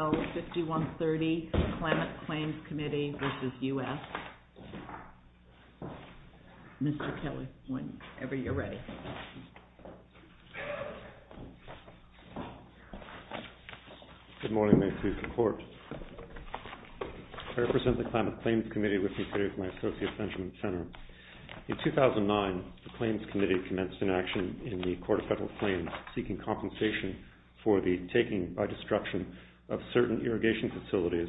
Mr. Kelly, whenever you're ready. Good morning, thank you for the support. I represent the CLAMATH CLAIMS COMMITTEE with respect to my associate Benjamin Senner. In 2009, the Claims Committee commenced an action in the Court of Federal Claims seeking compensation for the taking by destruction of certain irrigation facilities.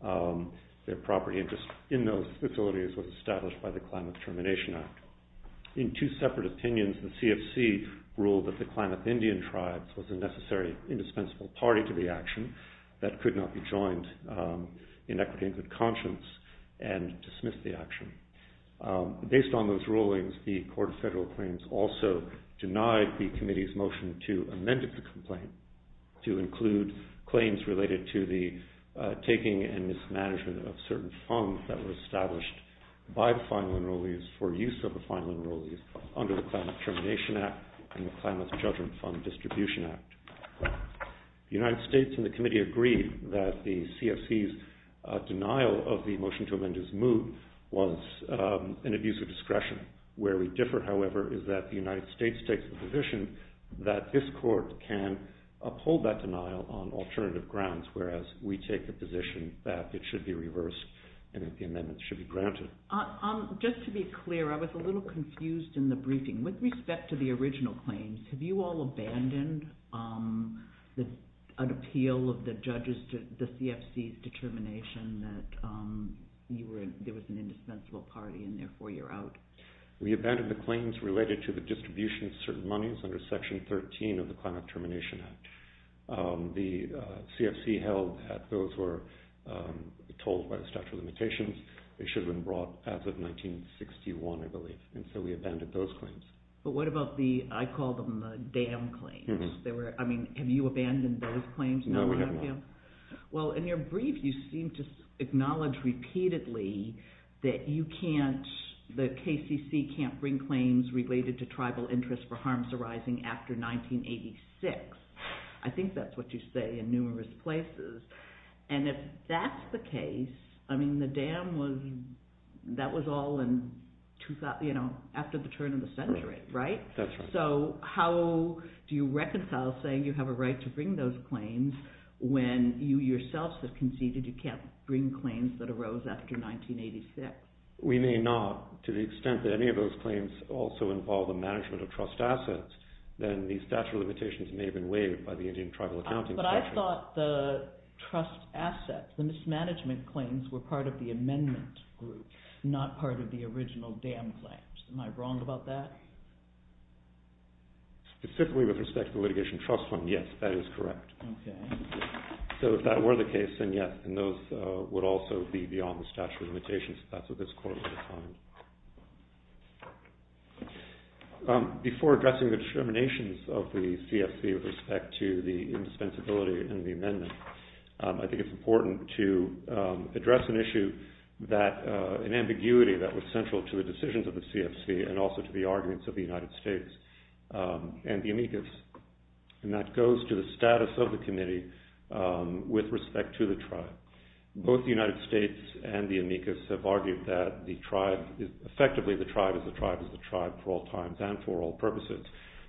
The property interest in those facilities was established by the Clamath Termination Act. In two separate opinions, the CFC ruled that the Clamath Indian Tribes was a necessary indispensable party to the action that could not be joined in equitation of conscience and dismissed the action. Based on those rulings, the Court of Federal Claims also denied the Committee's motion to amend the complaint to include claims related to the taking and mismanagement of certain funds that were established by the final enrollees for use of the final enrollees under the Clamath Termination Act and the Clamath Judgment Fund Distribution Act. The United States and the Committee agreed that the CFC's denial of the motion to amend his move was an abuse of discretion. Where we differ, however, is that the United States takes the position that this Court can uphold that denial on alternative grounds whereas we take the position that it should be reversed and that the amendments should be granted. Just to be clear, I was a little confused in the briefing. With respect to the original claims, have you all abandoned an appeal of the CFC's determination that there was an indispensable party and therefore you're out? We abandoned the claims related to the distribution of certain monies under Section 13 of the Clamath Termination Act. The CFC held that those were told by the statute of limitations. They should have been brought as of 1961, I believe, and so we abandoned those claims. But what about the, I call them, the damn claims? No, we haven't. Well, in your brief, you seem to acknowledge repeatedly that you can't, the KCC can't bring claims related to tribal interests for harms arising after 1986. I think that's what you say in numerous places. And if that's the case, I mean, the damn was, that was all after the turn of the century, right? That's right. How do you reconcile saying you have a right to bring those claims when you yourselves have conceded you can't bring claims that arose after 1986? We may not. To the extent that any of those claims also involve the management of trust assets, then these statute of limitations may have been waived by the Indian Tribal Accounting Section. But I thought the trust assets, the mismanagement claims, were part of the amendment group, not part of the original damn claims. Am I wrong about that? Specifically with respect to the litigation trust fund, yes, that is correct. Okay. So if that were the case, then yes. And those would also be beyond the statute of limitations. That's what this court would define. Before addressing the discriminations of the CFC with respect to the indispensability and the amendment, I think it's important to address an issue that, an ambiguity that was central to the decisions of the CFC and also to the arguments of the United States and the amicus. And that goes to the status of the committee with respect to the tribe. Both the United States and the amicus have argued that the tribe, effectively the tribe is the tribe is the tribe for all times and for all purposes,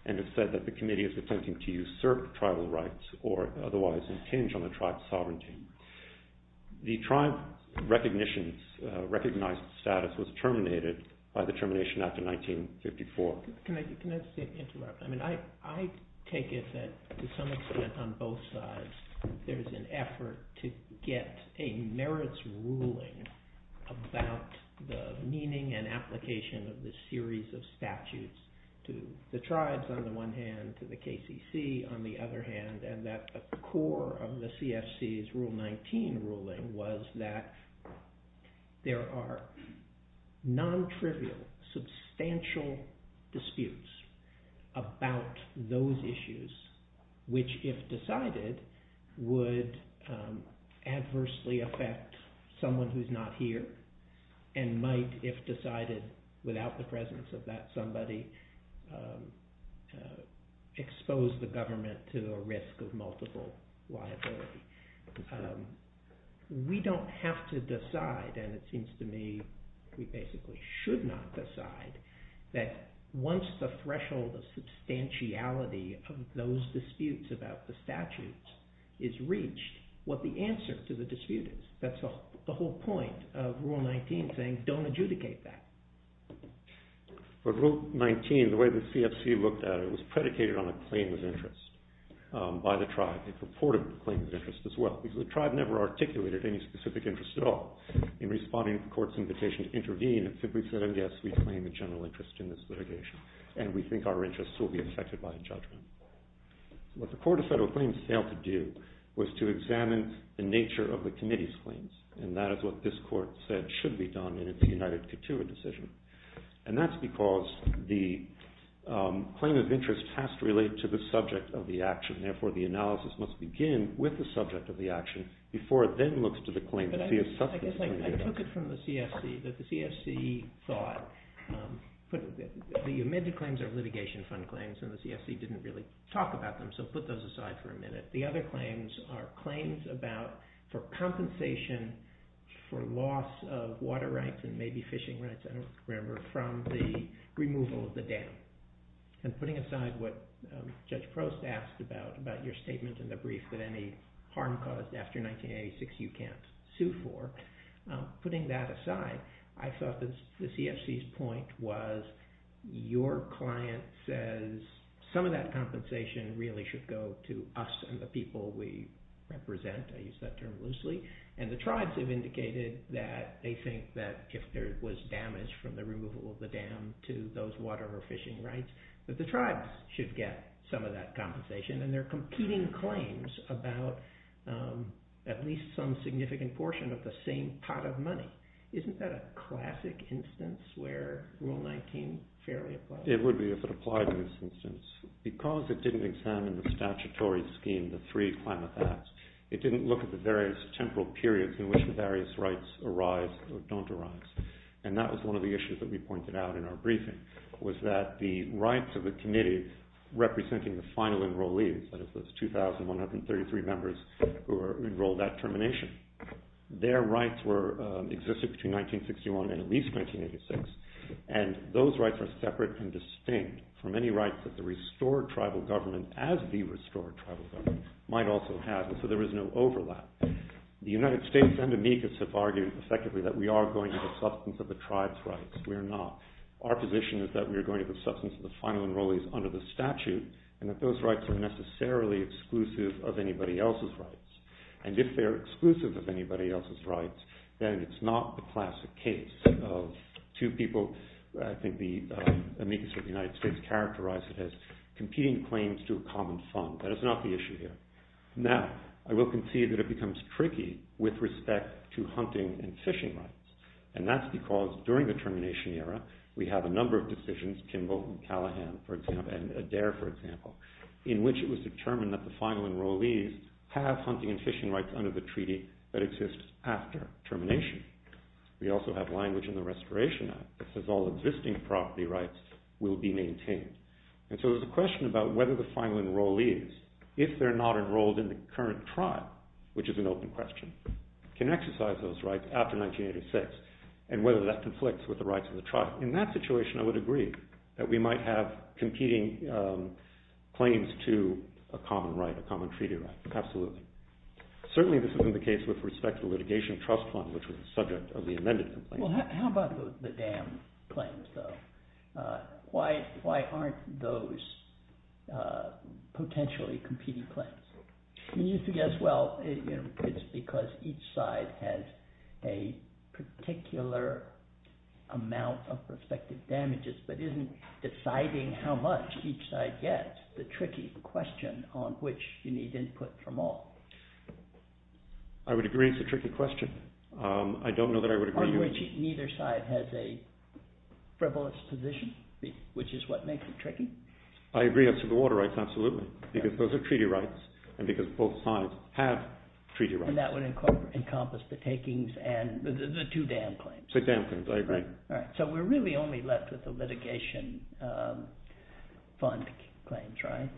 and have said that the committee is attempting to usurp tribal rights or otherwise impinge on the tribe's sovereignty. The tribe's recognized status was terminated by the Termination Act of 1954. Can I just interrupt? I take it that to some extent on both sides, there's an effort to get a merits ruling about the meaning and application of this series of statutes to the tribes on the one hand, to the KCC on the other hand, and that the core of the CFC's Rule 19 ruling was that there are non-trivial, substantial disputes about those issues, which if decided would adversely affect someone who's not here, and might, if decided without the presence of that somebody, expose the government to the risk of multiple liability. We don't have to decide, and it seems to me we basically should not decide, that once the threshold of substantiality of those disputes about the statutes is reached, what the answer to the dispute is. That's the whole point of Rule 19 saying don't adjudicate that. But Rule 19, the way the CFC looked at it, was predicated on a claim of interest by the tribe. It purported a claim of interest as well, because the tribe never articulated any specific interest at all in responding to the court's invitation to intervene. It simply said, yes, we claim a general interest in this litigation, and we think our interests will be affected by a judgment. What the Court of Federal Claims failed to do was to examine the nature of the committee's claims, and that is what this court said should be done in its united couture decision. And that's because the claim of interest has to relate to the subject of the action. Therefore, the analysis must begin with the subject of the action before it then looks to the claim of substantiality. I guess I took it from the CFC that the CFC thought the amended claims are litigation fund claims, and the CFC didn't really talk about them, so put those aside for a minute. The other claims are claims for compensation for loss of water rights and maybe fishing rights, I don't remember, from the removal of the dam. And putting aside what Judge Prost asked about, about your statement in the brief that any harm caused after 1986 you can't sue for, putting that aside, I thought the CFC's point was your client says some of that compensation really should go to us and the people we represent. I use that term loosely. And the tribes have indicated that they think that if there was damage from the removal of the dam to those water or fishing rights, that the tribes should get some of that compensation. And they're competing claims about at least some significant portion of the same pot of money. Isn't that a classic instance where Rule 19 fairly applies? It would be if it applied in this instance. Because it didn't examine the statutory scheme, the three climate acts, it didn't look at the various temporal periods in which the various rights arise or don't arise. And that was one of the issues that we pointed out in our briefing was that the rights of the committee representing the final enrollees, that is those 2,133 members who enrolled at termination, their rights existed between 1961 and at least 1986. And those rights are separate and distinct from any rights that the restored tribal government as the restored tribal government might also have. And so there is no overlap. The United States and Amicus have argued effectively that we are going to the substance of the tribes' rights. We are not. Our position is that we are going to the substance of the final enrollees under the statute and that those rights are necessarily exclusive of anybody else's rights. And if they're exclusive of anybody else's rights, then it's not the classic case of two people. I think the Amicus of the United States characterized it as competing claims to a common fund. That is not the issue here. Now, I will concede that it becomes tricky with respect to hunting and fishing rights. And that's because during the termination era, we have a number of decisions, Kimball and Callahan, for example, and Adair, for example, in which it was determined that the final enrollees have hunting and fishing rights under the treaty that exists after termination. We also have language in the Restoration Act that says all existing property rights will be maintained. And so there's a question about whether the final enrollees, if they're not enrolled in the current tribe, which is an open question, can exercise those rights after 1986 and whether that conflicts with the rights of the tribe. In that situation, I would agree that we might have competing claims to a common right, a common treaty right. Absolutely. Certainly this isn't the case with respect to the litigation trust fund, which was the subject of the amended complaint. Well, how about the dam claims, though? Why aren't those potentially competing claims? You used to guess, well, it's because each side has a particular amount of prospective damages but isn't deciding how much each side gets, that's the tricky question on which you need input from all. I would agree it's a tricky question. I don't know that I would agree with you. On which neither side has a frivolous position, which is what makes it tricky. I agree as to the water rights, absolutely, because those are treaty rights and because both sides have treaty rights. And that would encompass the takings and the two dam claims. The dam claims, I agree. So we're really only left with the litigation fund claims, right?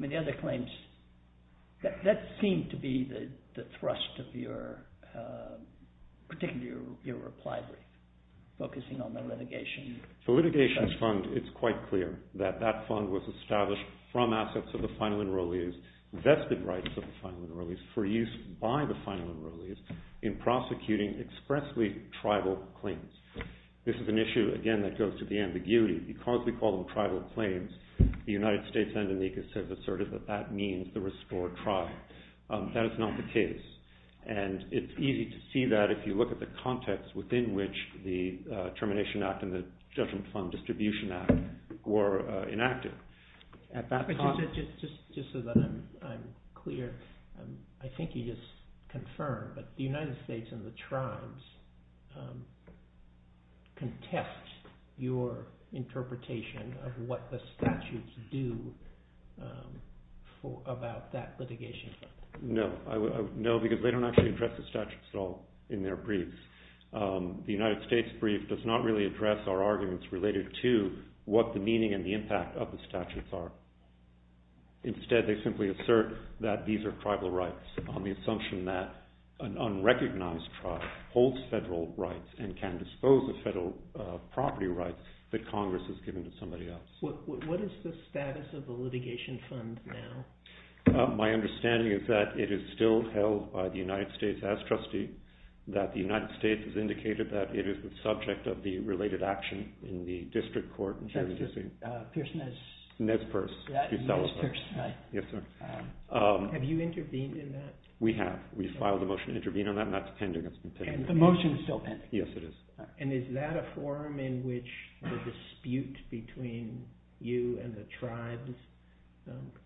The other claims, that seemed to be the thrust of your, particularly your reply, focusing on the litigation. The litigation fund, it's quite clear that that fund was established from assets of the final enrollees, vested rights of the final enrollees, for use by the final enrollees in prosecuting expressly tribal claims. This is an issue, again, that goes to the ambiguity. Because we call them tribal claims, the United States and Indonesia have asserted that that means the restored tribe. That is not the case. And it's easy to see that if you look at the context within which the Termination Act and the Judgment Fund Distribution Act were enacted. Just so that I'm clear, I think you just confirmed, but the United States and the tribes contest your interpretation of what the statutes do about that litigation fund. No, because they don't actually address the statutes at all in their briefs. The United States brief does not really address our arguments related to what the meaning and the impact of the statutes are. Instead, they simply assert that these are tribal rights on the assumption that an unrecognized tribe holds federal rights and can dispose of federal property rights that Congress has given to somebody else. What is the status of the litigation fund now? My understanding is that it is still held by the United States as trustee, that the United States has indicated that it is the subject of the related action in the district court in Jersey City. That's Pierce-Nez... Nez Perce. Nez Perce, right. Yes, sir. Have you intervened in that? We have. We filed a motion to intervene on that, and that's pending. And the motion is still pending. Yes, it is. And is that a forum in which the dispute between you and the tribes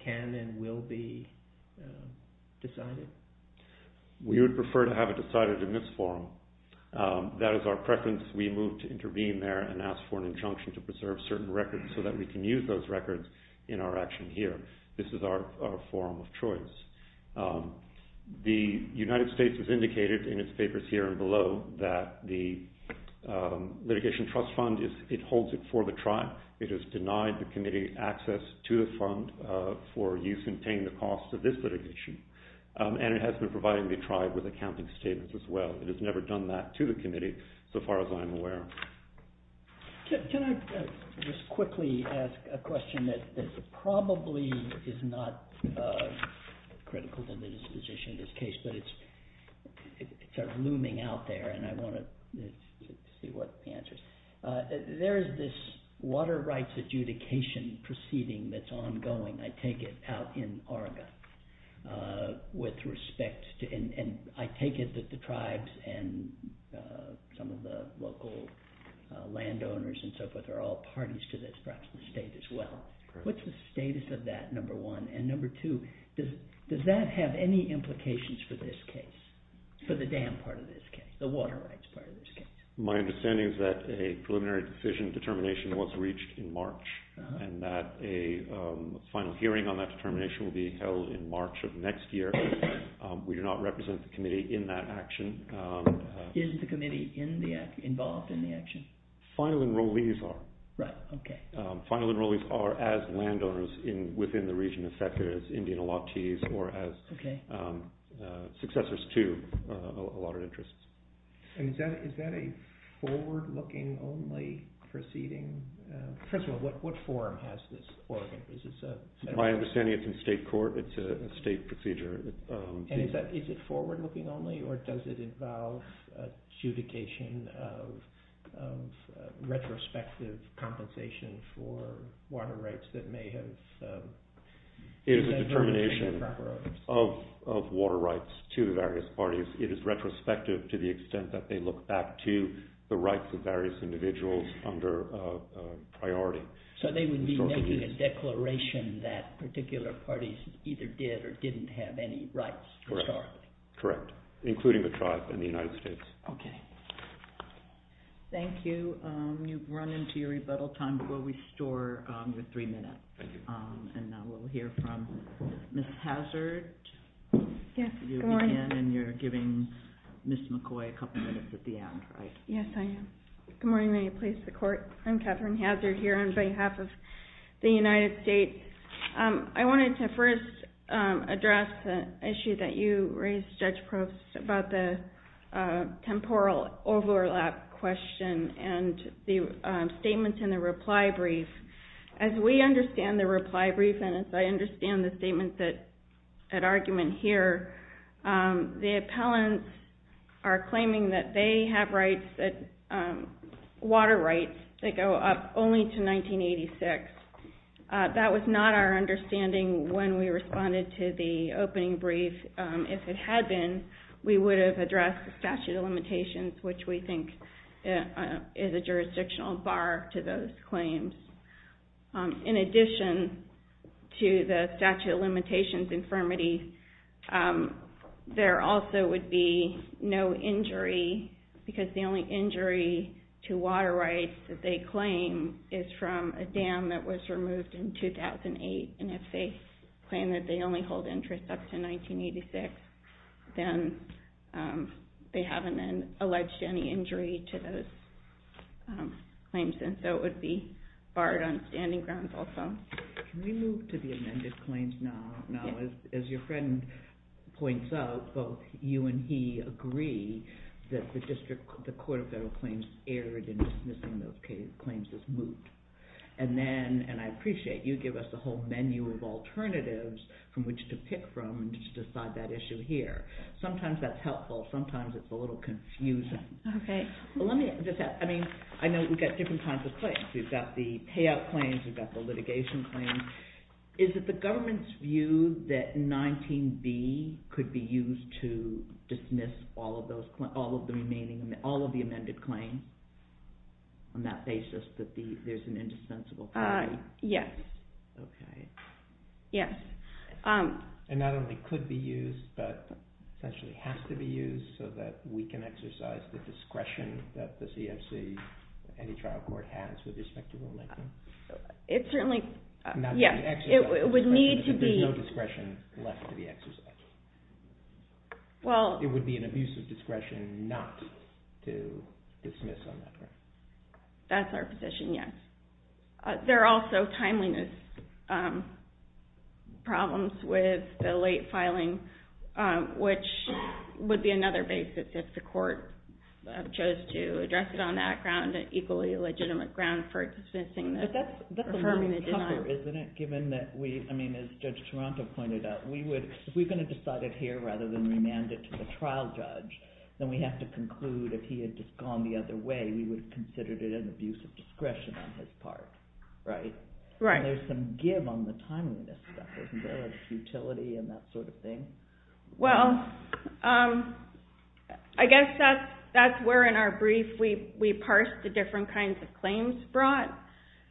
can and will be decided? We would prefer to have it decided in this forum. That is our preference. We move to intervene there and ask for an injunction to preserve certain records so that we can use those records in our action here. This is our forum of choice. The United States has indicated in its papers here and below that the litigation trust fund holds it for the tribe. It has denied the committee access to the fund for use in paying the cost of this litigation, and it has been providing the tribe with accounting statements as well. It has never done that to the committee, so far as I am aware. Can I just quickly ask a question that probably is not critical to the disposition of this case, but it's sort of looming out there, and I want to see what the answer is. There is this water rights adjudication proceeding that's ongoing. I take it out in Oregon with respect to, and I take it that the tribes and some of the local landowners and so forth are all parties to this, perhaps the state as well. What's the status of that, number one? And number two, does that have any implications for this case, for the dam part of this case, the water rights part of this case? My understanding is that a preliminary decision determination was reached in March, and that a final hearing on that determination will be held in March of next year. We do not represent the committee in that action. Is the committee involved in the action? Final enrollees are. Right, okay. Final enrollees are as landowners within the region, in fact, as Indian-Alatis or as successors to a lot of interests. And is that a forward-looking only proceeding? First of all, what forum has this Oregon? My understanding is it's in state court. It's a state procedure. And is it forward-looking only, or does it involve adjudication of retrospective compensation for water rights that may have… It is a determination of water rights to the various parties. It is retrospective to the extent that they look back to the rights of various individuals under priority. So they would be making a declaration that particular parties either did or didn't have any rights historically. Correct, including the tribe and the United States. Okay. Thank you. You've run into your rebuttal time, but we'll restore your three minutes. Thank you. And now we'll hear from Ms. Hazard. Yes, good morning. You begin, and you're giving Ms. McCoy a couple minutes at the end, right? Yes, I am. Good morning. May you please support? I'm Catherine Hazard here on behalf of the United States. I wanted to first address the issue that you raised, Judge Probst, about the temporal overlap question and the statements in the reply brief. As we understand the reply brief and as I understand the statements at argument here, the appellants are claiming that they have rights, water rights, that go up only to 1986. That was not our understanding when we responded to the opening brief. If it had been, we would have addressed the statute of limitations, which we think is a jurisdictional bar to those claims. In addition to the statute of limitations infirmity, there also would be no injury because the only injury to water rights that they claim is from a dam that was removed in 2008, and if they claim that they only hold interest up to 1986, then they haven't alleged any injury to those claims, and so it would be barred on standing grounds also. Can we move to the amended claims now? Now, as your friend points out, both you and he agree that the Court of Federal Claims erred in dismissing those claims as moot, and I appreciate you give us the whole menu of alternatives from which to pick from to decide that issue here. Sometimes that's helpful. Sometimes it's a little confusing. I know we've got different kinds of claims. We've got the payout claims. We've got the litigation claims. Is it the government's view that 19b could be used to dismiss all of the amended claims on that basis, that there's an indispensable property? Yes. Okay. Yes. And not only could be used, but essentially has to be used so that we can exercise the discretion that the CFC, any trial court has with respect to the Lincoln? It certainly, yes. It would need to be. There's no discretion left to be exercised. It would be an abuse of discretion not to dismiss on that ground. That's our position, yes. There are also timeliness problems with the late filing, which would be another basis if the court chose to address it on that ground, an equally legitimate ground for dismissing this. That's a little tougher, isn't it, given that we, I mean, as Judge Toronto pointed out, if we're going to decide it here rather than remand it to the trial judge, then we have to conclude if he had just gone the other way, we would consider it an abuse of discretion on his part, right? Right. There's some give on the timeliness stuff, isn't there, of futility and that sort of thing? Well, I guess that's where in our brief we parsed the different kinds of claims brought.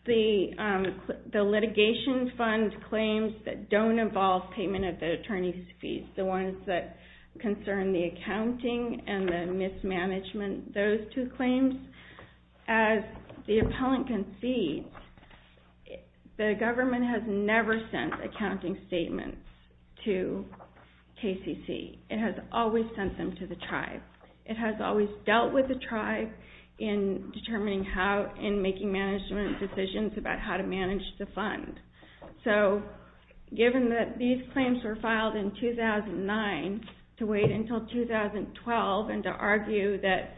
The litigation fund claims that don't involve payment of the attorney's fees, the ones that concern the accounting and the mismanagement, those two claims. As the appellant can see, the government has never sent accounting statements to KCC. It has always sent them to the tribe. It has always dealt with the tribe in determining how, in making management decisions about how to manage the fund. So given that these claims were filed in 2009 to wait until 2012 and to argue that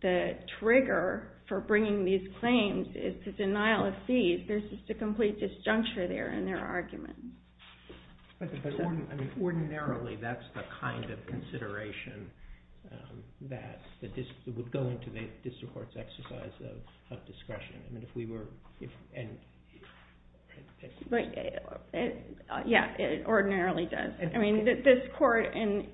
the trigger for bringing these claims is the denial of fees, there's just a complete disjuncture there in their argument. But ordinarily, that's the kind of consideration that would go into the district court's exercise of discretion. Yeah, it ordinarily does. I mean, this court in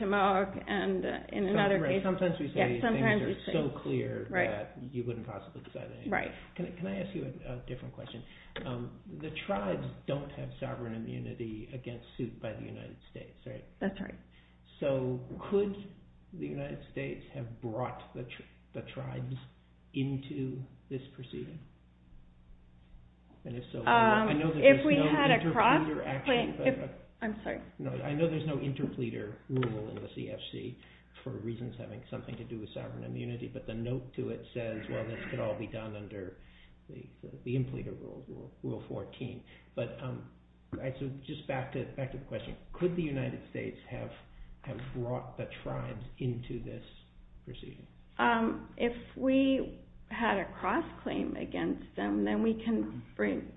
Tammawoc and in another case. Sometimes we say things are so clear that you wouldn't possibly decide anything. Right. Can I ask you a different question? The tribes don't have sovereign immunity against suit by the United States, right? That's right. So could the United States have brought the tribes into this proceeding? If we had a cross- I'm sorry. No, I know there's no interpleader rule in the CFC for reasons having something to do with sovereign immunity, but the note to it says, well, this could all be done under the interpleader rule, Rule 14. But just back to the question. Could the United States have brought the tribes into this proceeding? If we had a cross-claim against them, then we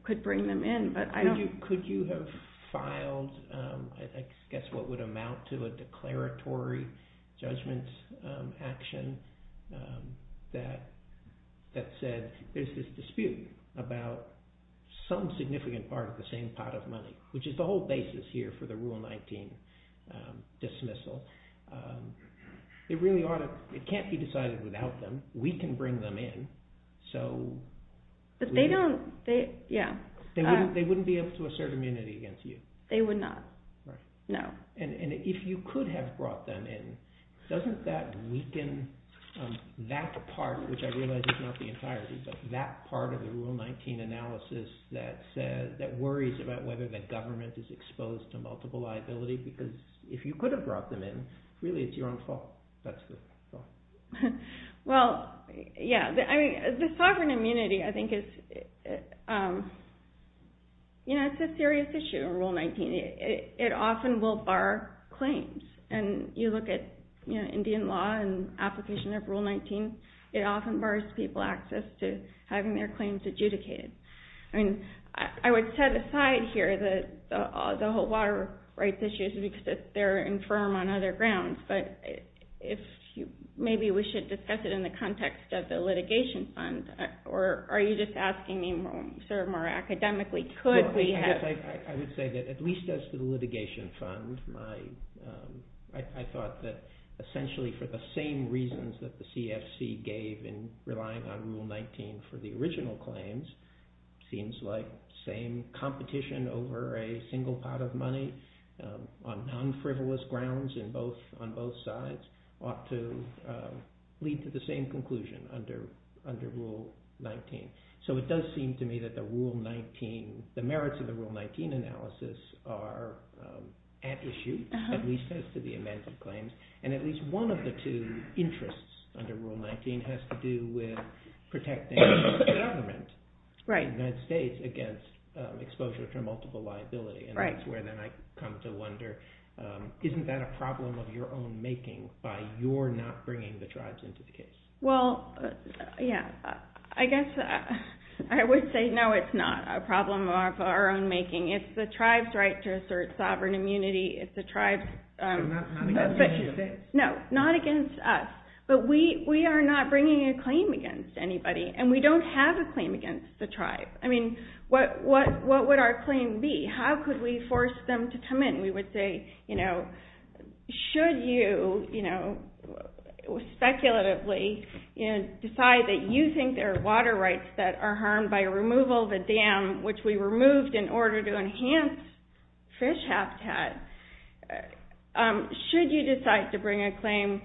could bring them in, but I don't- Could you have filed, I guess what would amount to a declaratory judgment action that said there's this dispute about some significant part of the same pot of money, which is the whole basis here for the Rule 19 dismissal. It really ought to- It can't be decided without them. We can bring them in, so- But they don't- Yeah. They wouldn't be able to assert immunity against you. They would not. No. And if you could have brought them in, doesn't that weaken that part, which I realize is not the entirety, but that part of the Rule 19 analysis that worries about whether the government is exposed to multiple liability? Because if you could have brought them in, really, it's your own fault. That's the thought. Well, yeah. The sovereign immunity, I think, is a serious issue in Rule 19. It often will bar claims. And you look at Indian law and application of Rule 19, it often bars people access to having their claims adjudicated. I mean, I would set aside here the whole water rights issues because they're infirm on other grounds, but maybe we should discuss it in the context of the litigation fund. Or are you just asking me more academically? I would say that at least as to the litigation fund, I thought that essentially for the same reasons that the CFC gave in relying on Rule 19 for the original claims, it seems like the same competition over a single pot of money on non-frivolous grounds on both sides ought to lead to the same conclusion under Rule 19. So it does seem to me that the merits of the Rule 19 analysis are at issue, at least as to the amended claims. And at least one of the two interests under Rule 19 has to do with protecting the government, the United States, against exposure to multiple liability. And that's where then I come to wonder, isn't that a problem of your own making by your not bringing the tribes into the case? Well, yeah. I guess I would say no, it's not a problem of our own making. It's the tribe's right to assert sovereign immunity. It's the tribe's... Not against you. No, not against us. But we are not bringing a claim against anybody, and we don't have a claim against the tribe. I mean, what would our claim be? How could we force them to come in? We would say, should you speculatively decide that you think there are water rights that are harmed by removal of a dam, which we removed in order to enhance fish habitat, should you decide to bring a claim?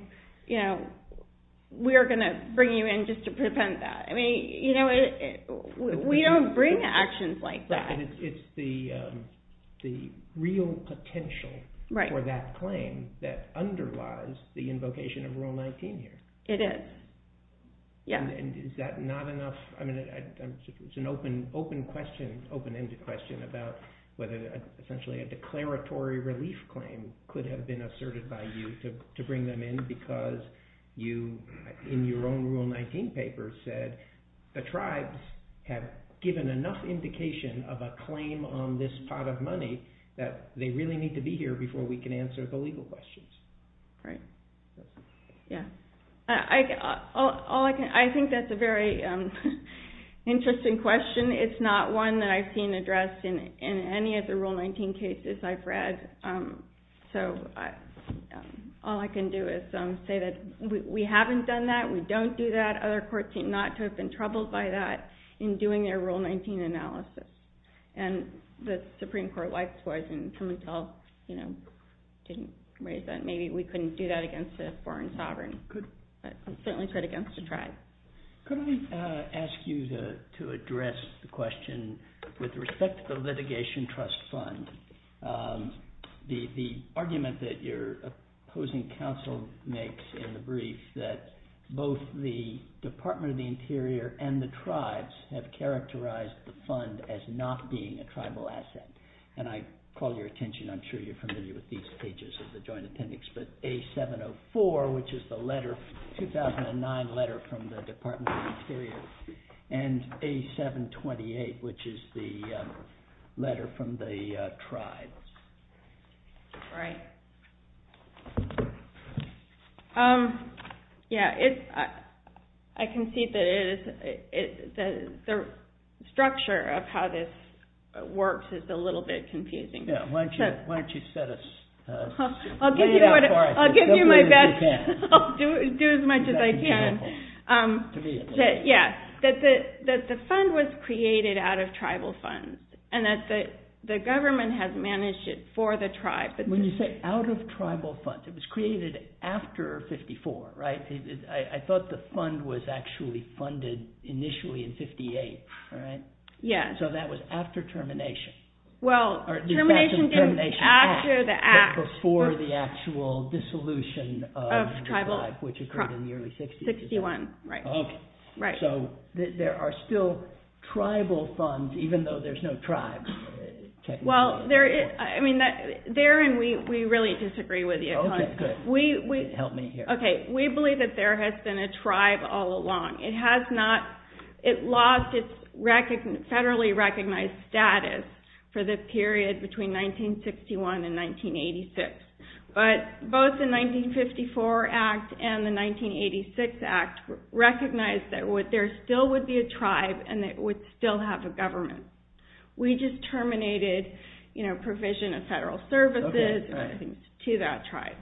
We are going to bring you in just to prevent that. I mean, we don't bring actions like that. But it's the real potential for that claim that underlies the invocation of Rule 19 here. It is. And is that not enough? I mean, it's an open-ended question about whether essentially a declaratory relief claim could have been asserted by you to bring them in because you, in your own Rule 19 paper, said the tribes have given enough indication of a claim on this pot of money that they really need to be here before we can answer the legal questions. Right. Yeah. I think that's a very interesting question. It's not one that I've seen addressed in any of the Rule 19 cases I've read. So all I can do is say that we haven't done that, we don't do that, other courts seem not to have been troubled by that in doing their Rule 19 analysis. And the Supreme Court likewise didn't raise that. Maybe we couldn't do that against a foreign sovereign, but certainly could against a tribe. Could I ask you to address the question with respect to the litigation trust fund? The argument that your opposing counsel makes in the brief that both the Department of the Interior and the tribes have characterized the fund as not being a tribal asset. And I call your attention, I'm sure you're familiar with these pages of the joint attendance, but A704, which is the 2009 letter from the Department of the Interior, and A728, which is the letter from the tribes. Right. Yeah. I can see that the structure of how this works is a little bit confusing. Yeah, why don't you set us straight. I'll give you my best. I'll do as much as I can. To me at least. Yeah. That the fund was created out of tribal funds and that the government has managed it for the tribe. When you say out of tribal funds, it was created after 54, right? I thought the fund was actually funded initially in 58, right? Yeah. So that was after termination. Well, termination came after the act. Before the actual dissolution of the tribe, which occurred in the early 60s. 61, right. Okay. So there are still tribal funds, even though there's no tribes. I mean, there and we really disagree with you. Okay, good. Help me here. Okay. We believe that there has been a tribe all along. It has not. It lost its federally recognized status for the period between 1961 and 1986. But both the 1954 Act and the 1986 Act recognized that there still would be a tribe and it would still have a government. We just terminated provision of federal services to that tribe.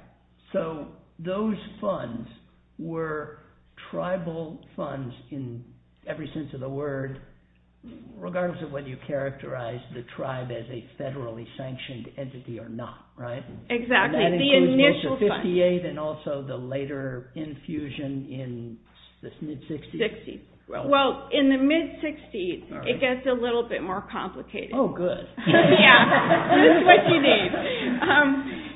So those funds were tribal funds in every sense of the word, regardless of whether you characterize the tribe as a federally sanctioned entity or not, right? Exactly. The initial funds. And that includes 1958 and also the later infusion in the mid-60s? Well, in the mid-60s, it gets a little bit more complicated. Oh, good. Yeah. This is what you need.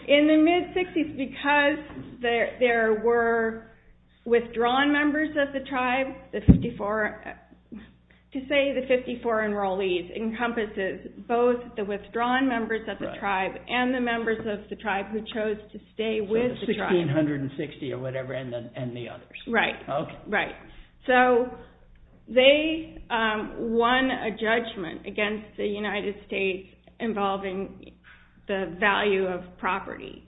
In the mid-60s, because there were withdrawn members of the tribe, to say the 54 enrollees encompasses both the withdrawn members of the tribe and the members of the tribe who chose to stay with the tribe. So the 1,660 or whatever and the others. Right. So they won a judgment against the United States involving the value of property.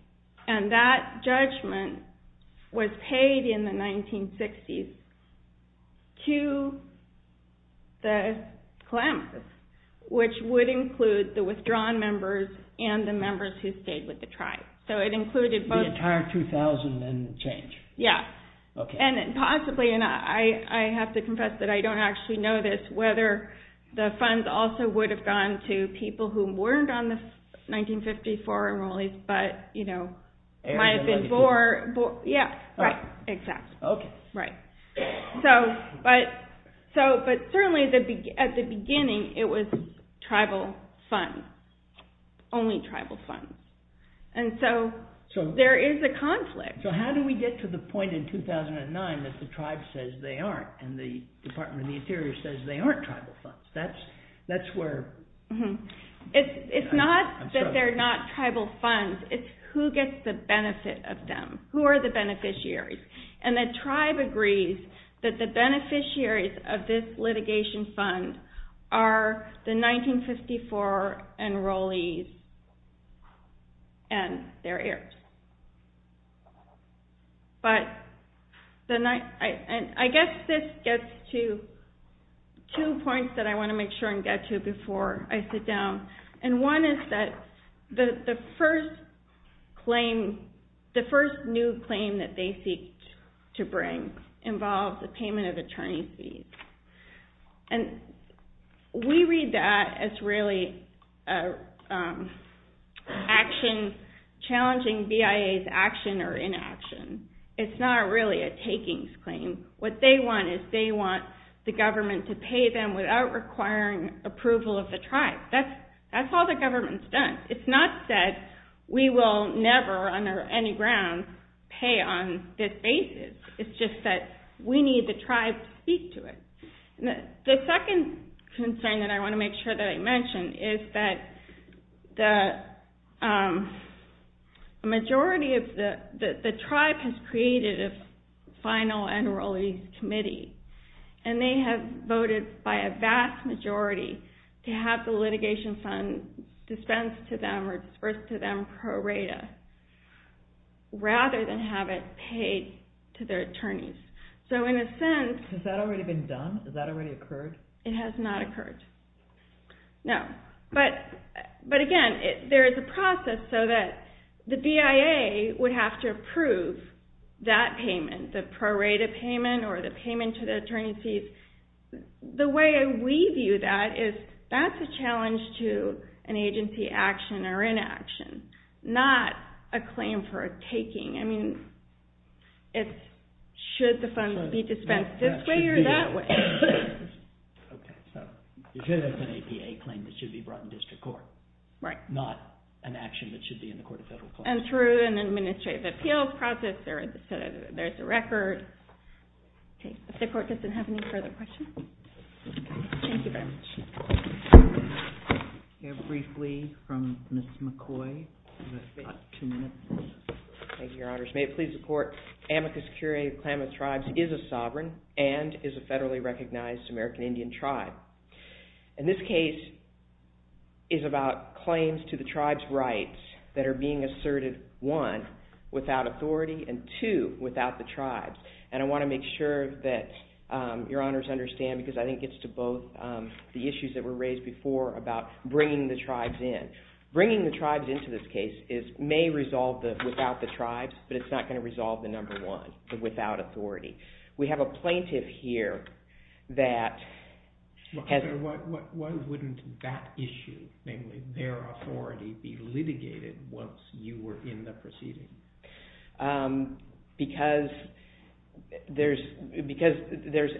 And that judgment was paid in the 1960s to the Klamath, which would include the withdrawn members and the members who stayed with the tribe. So it included both. The entire 2,000 and the change. Yeah. And possibly, and I have to confess that I don't actually know this, whether the funds also would have gone to people who weren't on the 1954 enrollees but might have been bored. Yeah. Right. Exactly. Okay. Right. But certainly at the beginning, it was tribal funds. Only tribal funds. And so there is a conflict. So how do we get to the point in 2009 that the tribe says they aren't and the Department of the Interior says they aren't tribal funds? That's where I'm struggling. It's not that they're not tribal funds. It's who gets the benefit of them. Who are the beneficiaries? And the tribe agrees that the beneficiaries of this litigation fund are the 1954 enrollees and their heirs. But I guess this gets to two points that I want to make sure and get to before I sit down. And one is that the first new claim that they seek to bring involves a payment of attorney fees. And we read that as really challenging BIA's action or inaction. It's not really a takings claim. What they want is they want the government to pay them without requiring approval of the tribe. That's all the government's done. It's not that we will never under any grounds pay on this basis. It's just that we need the tribe to speak to it. The second concern that I want to make sure that I mention is that the majority of the tribe has created a final enrollee committee. And they have voted by a vast majority to have the litigation fund dispensed to them or disbursed to them pro rata rather than have it paid to their attorneys. So in a sense... Has that already been done? Has that already occurred? It has not occurred. But again, there is a process so that the BIA would have to approve that payment, the pro rata payment or the payment to the attorney fees. The way we view that is that's a challenge to an agency action or inaction, not a claim for a taking. I mean, should the fund be dispensed this way or that way? Okay. You're saying that's an APA claim that should be brought in district court. Right. Not an action that should be in the court of federal claims. And through an administrative appeals process, there's a record. Okay. If the court doesn't have any further questions. Thank you very much. Briefly from Ms. McCoy. Thank you, Your Honors. May it please the court. Amicus Curiae of Klamath Tribes is a sovereign and is a federally recognized American Indian tribe. And this case is about claims to the tribe's rights that are being asserted, one, without authority and, two, without the tribes. And I want to make sure that Your Honors understand because I think it gets to both the issues that were raised before about bringing the tribes in. Bringing the tribes into this case may resolve the without the tribes, but it's not going to resolve the number one, the without authority. We have a plaintiff here that has Why wouldn't that issue, namely their authority, be litigated once you were in the proceeding? Because there's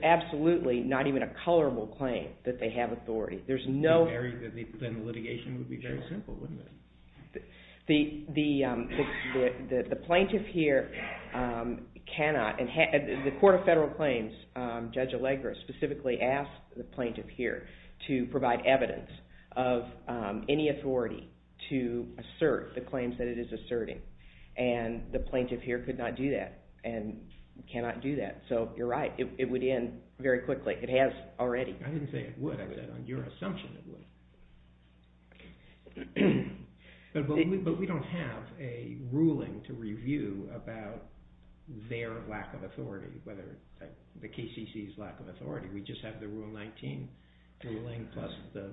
absolutely not even a colorable claim that they have authority. Then the litigation would be very simple, wouldn't it? The plaintiff here cannot. The Court of Federal Claims, Judge Allegra, specifically asked the plaintiff here to provide evidence of any authority to assert the claims that it is asserting. And the plaintiff here could not do that and cannot do that. So you're right, it would end very quickly. It has already. I didn't say it would. I said on your assumption it would. But we don't have a ruling to review about their lack of authority, whether the KCC's lack of authority. We just have the Rule 19 ruling plus the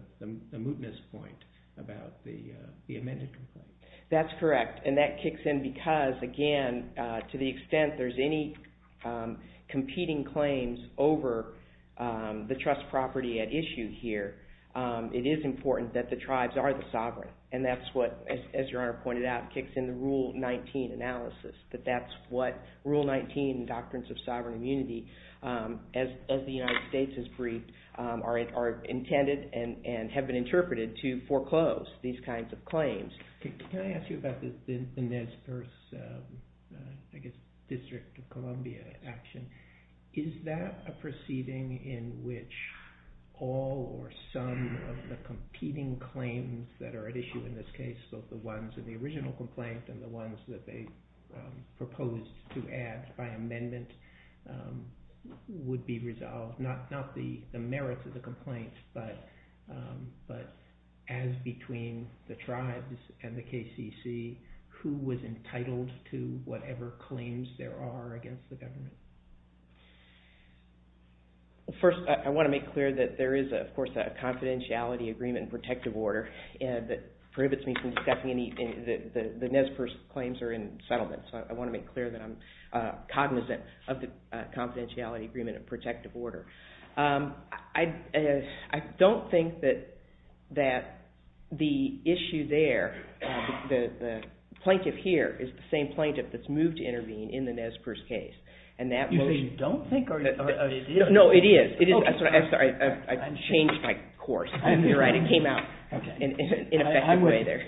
mootness point about the amended complaint. That's correct. And that kicks in because, again, to the extent there's any competing claims over the trust property at issue here, it is important that the tribes are the sovereign. And that's what, as Your Honor pointed out, kicks in the Rule 19 analysis, that that's what Rule 19 doctrines of sovereign immunity, as the United States has briefed, are intended and have been interpreted to foreclose these kinds of claims. Can I ask you about the Nez Perce District of Columbia action? Is that a proceeding in which all or some of the competing claims that are at issue in this case, both the ones in the original complaint and the ones that they proposed to add by amendment, would be resolved? Not the merits of the complaint, but as between the tribes and the KCC, who was entitled to whatever claims there are against the government? First, I want to make clear that there is, of course, a confidentiality agreement and protective order that prohibits me from discussing anything. The Nez Perce claims are in settlement, so I want to make clear that I'm cognizant of the confidentiality agreement and protective order. I don't think that the issue there, the plaintiff here is the same plaintiff that's moved to intervene in the Nez Perce case. You say you don't think? No, it is. I'm sorry, I changed my course. You're right, it came out in an ineffective way there.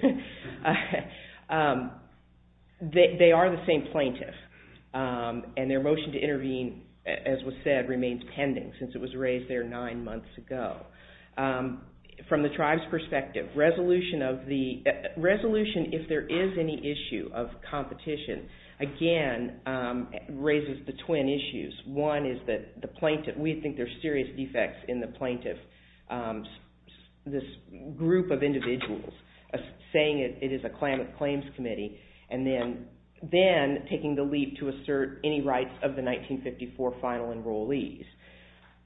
They are the same plaintiff, and their motion to intervene, as was said, remains pending since it was raised there nine months ago. From the tribe's perspective, resolution if there is any issue of competition, again, raises the twin issues. One is that we think there are serious defects in the plaintiff. This group of individuals saying it is a claims committee and then taking the leap to assert any rights of the 1954 final enrollees.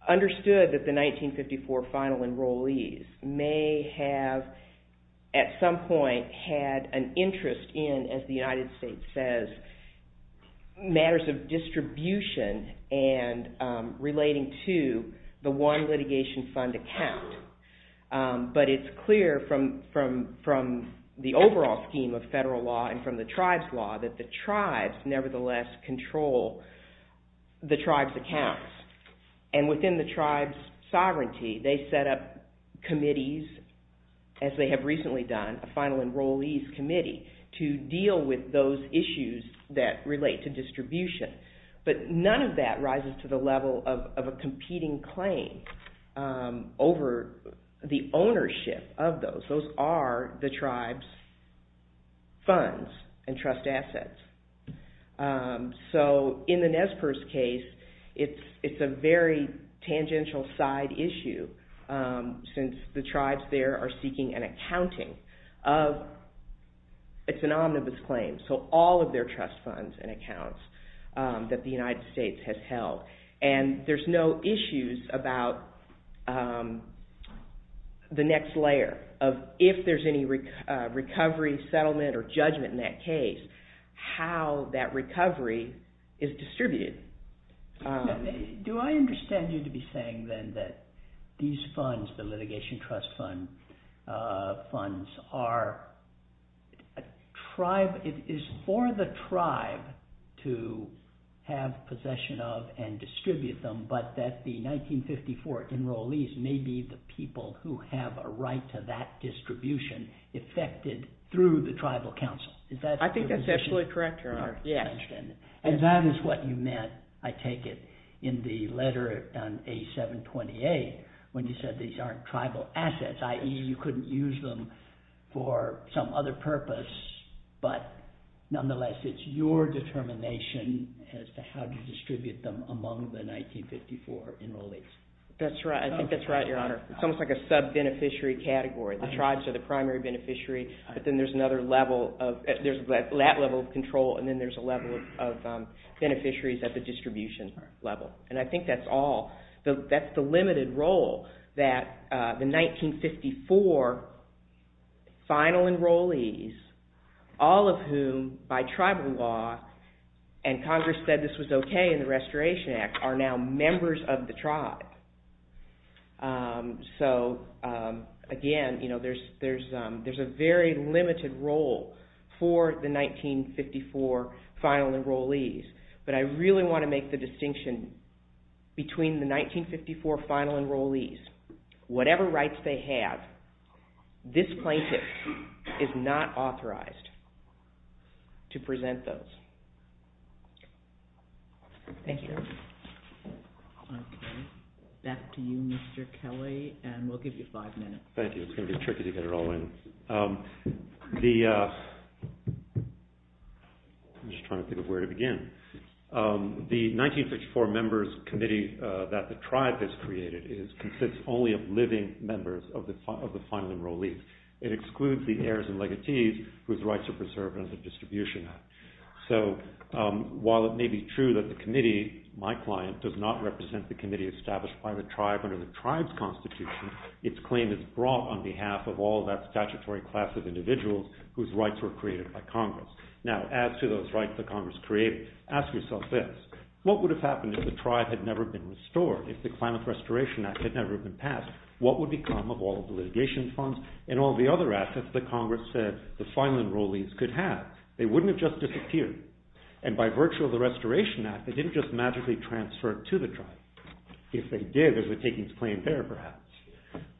Understood that the 1954 final enrollees may have, at some point, had an interest in, as the United States says, matters of distribution and relating to the one litigation fund account. But it's clear from the overall scheme of federal law and from the tribe's law that the tribes nevertheless control the tribe's accounts. And within the tribe's sovereignty, they set up committees, as they have recently done, a final enrollees committee, to deal with those issues that relate to distribution. But none of that rises to the level of a competing claim over the ownership of those. Those are the tribe's funds and trust assets. So in the Nez Perce case, it's a very tangential side issue since the tribes there are seeking an accounting of... that the United States has held. And there's no issues about the next layer of if there's any recovery, settlement, or judgment in that case, how that recovery is distributed. Do I understand you to be saying then that these funds, the litigation trust funds, are a tribe... to have possession of and distribute them, but that the 1954 enrollees may be the people who have a right to that distribution effected through the tribal council? I think that's absolutely correct. And that is what you meant, I take it, in the letter on A728 when you said these aren't tribal assets, i.e. you couldn't use them for some other purpose, but nonetheless it's your determination as to how to distribute them among the 1954 enrollees. That's right, I think that's right, Your Honor. It's almost like a sub-beneficiary category. The tribes are the primary beneficiary, but then there's another level of... there's that level of control, and then there's a level of beneficiaries at the distribution level. And I think that's all... that's the limited role that the 1954 final enrollees, all of whom, by tribal law, and Congress said this was okay in the Restoration Act, are now members of the tribe. So, again, there's a very limited role for the 1954 final enrollees. But I really want to make the distinction between the 1954 final enrollees. Whatever rights they have, this plaintiff is not authorized to present those. Thank you. Back to you, Mr. Kelly, and we'll give you five minutes. Thank you, it's going to be tricky to get it all in. The... I'm just trying to think of where to begin. The 1954 members committee that the tribe has created consists only of living members of the final enrollees. It excludes the heirs and legatees whose rights are preserved under the distribution act. So, while it may be true that the committee, my client, does not represent the committee established by the tribe under the tribe's constitution, its claim is brought on behalf of all that statutory class of individuals whose rights were created by Congress. Now, as to those rights that Congress created, ask yourself this, what would have happened if the tribe had never been restored? If the Climate Restoration Act had never been passed, what would become of all the litigation funds and all the other assets that Congress said the final enrollees could have? They wouldn't have just disappeared. And by virtue of the Restoration Act, they didn't just magically transfer it to the tribe. If they did, there's a takings claim there, perhaps.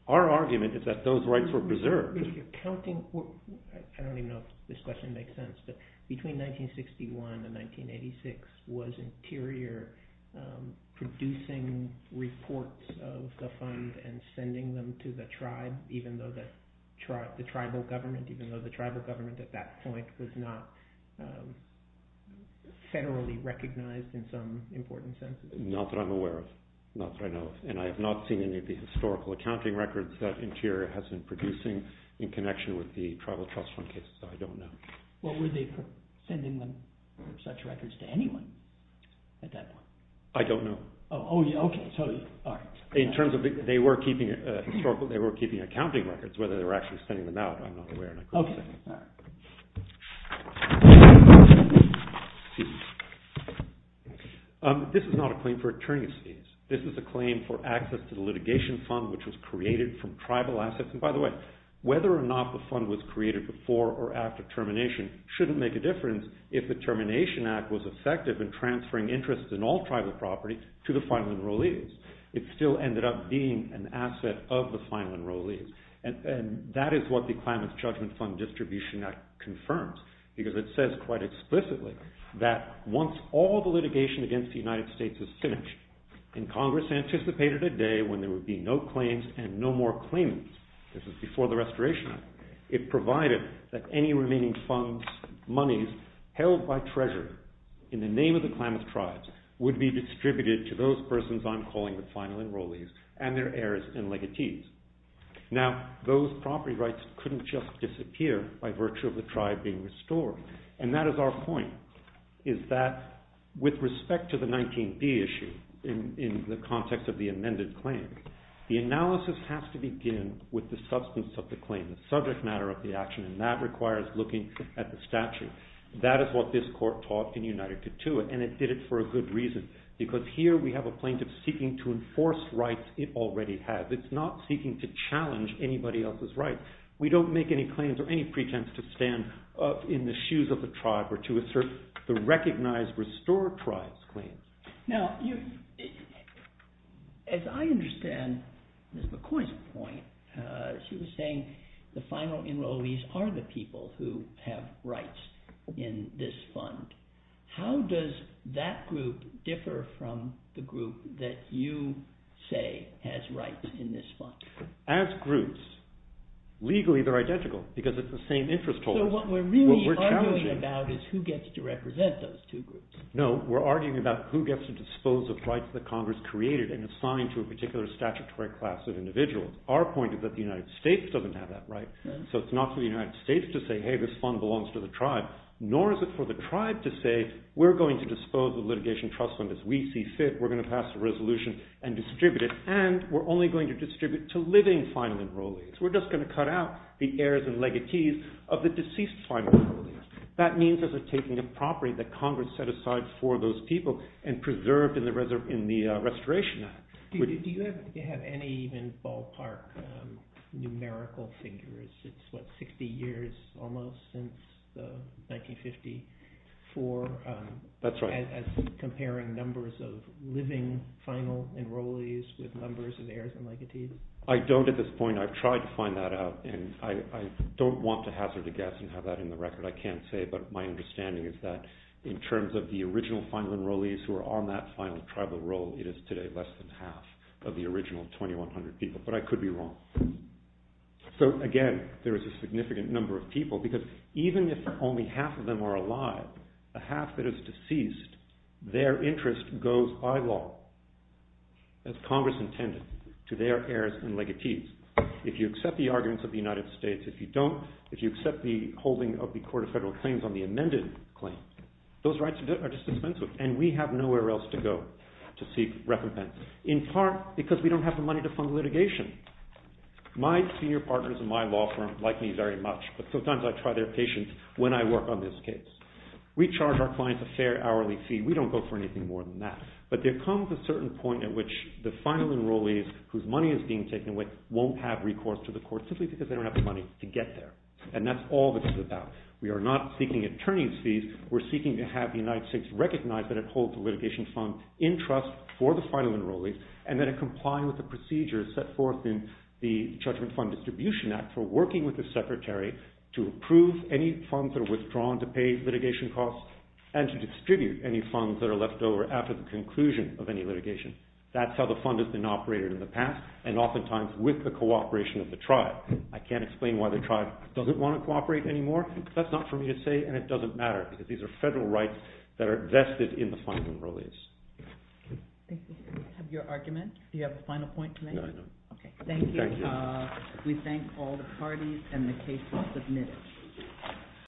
Our argument is that those rights were preserved. I don't even know if this question makes sense, but between 1961 and 1986, was Interior producing reports of the fund and sending them to the tribe, even though the tribal government at that point was not federally recognized in some important sense? Not that I'm aware of. Not that I know of. And I have not seen any of the historical accounting records that Interior has been producing in connection with the tribal trust fund cases, so I don't know. Well, were they sending them, such records, to anyone at that point? I don't know. Oh, yeah, okay. So, all right. In terms of they were keeping accounting records, whether they were actually sending them out, I'm not aware, and I couldn't say. Okay, all right. Excuse me. This is not a claim for attorney's fees. This is a claim for access to the litigation fund, which was created from tribal assets. And by the way, whether or not the fund was created before or after termination shouldn't make a difference if the Termination Act was effective in transferring interest in all tribal property to the final enrollees. It still ended up being an asset of the final enrollees, and that is what the Climate Judgment Fund Distribution Act confirms, because it says quite explicitly that once all the litigation against the United States is finished, and Congress anticipated a day when there would be no claims and no more claimants, this is before the Restoration Act, it provided that any remaining funds, monies held by treasurer in the name of the Klamath Tribes would be distributed to those persons I'm calling the final enrollees and their heirs and legatees. Now, those property rights couldn't just disappear by virtue of the tribe being restored. And that is our point, is that with respect to the 19b issue, in the context of the amended claim, the analysis has to begin with the substance of the claim, the subject matter of the action, and that requires looking at the statute. That is what this court taught in United to Tuit, and it did it for a good reason, because here we have a plaintiff seeking to enforce rights it already has. It's not seeking to challenge anybody else's rights. We don't make any claims or any pretense to stand up in the shoes of the tribe or to assert the recognized restore tribes claim. Now, as I understand Ms. McCoy's point, she was saying the final enrollees are the people who have rights in this fund. How does that group differ from the group that you say has rights in this fund? As groups, legally they're identical because it's the same interest tolls. So what we're really arguing about is who gets to represent those two groups. No, we're arguing about who gets to dispose of rights that Congress created and assigned to a particular statutory class of individuals. Our point is that the United States doesn't have that right, so it's not for the United States to say, hey, this fund belongs to the tribe, nor is it for the tribe to say, we're going to dispose of litigation trust fund as we see fit. We're going to pass a resolution and distribute it, and we're only going to distribute to living final enrollees. We're just going to cut out the heirs and legatees of the deceased final enrollees. That means there's a taking of property that Congress set aside for those people and preserved in the Restoration Act. Do you have any even ballpark numerical figures? It's what, 60 years almost since 1954? That's right. As comparing numbers of living final enrollees with numbers of heirs and legatees? I don't at this point. I've tried to find that out, and I don't want to hazard a guess and have that in the record. I can't say, but my understanding is that in terms of the original final enrollees who are on that final tribal role, it is today less than half of the original 2,100 people, but I could be wrong. So again, there is a significant number of people because even if only half of them are alive, a half that is deceased, their interest goes by law as Congress intended to their heirs and legatees. If you accept the arguments of the United States, if you don't, if you accept the holding of the Court of Federal Claims on the amended claims, those rights are just dispensed with, and we have nowhere else to go to seek recompense, in part because we don't have the money to fund litigation. My senior partners in my law firm like me very much, but sometimes I try their patience when I work on this case. We charge our clients a fair hourly fee. We don't go for anything more than that, but there comes a certain point at which the final enrollees whose money is being taken away won't have recourse to the court simply because they don't have the money to get there, and that's all this is about. We are not seeking attorney's fees. We're seeking to have the United States recognize that it holds the litigation fund in trust for the final enrollees, and that it comply with the procedures set forth in the Judgment Fund Distribution Act for working with the Secretary to approve any funds that are withdrawn to pay litigation costs and to distribute any funds that are left over after the conclusion of any litigation. That's how the fund has been operated in the past, and oftentimes with the cooperation of the tribe. I can't explain why the tribe doesn't want to cooperate anymore. That's not for me to say, and it doesn't matter because these are federal rights that are vested in the final enrollees. Thank you. Do you have a final point to make? No, I don't. Okay, thank you. We thank all the parties and the cases submitted.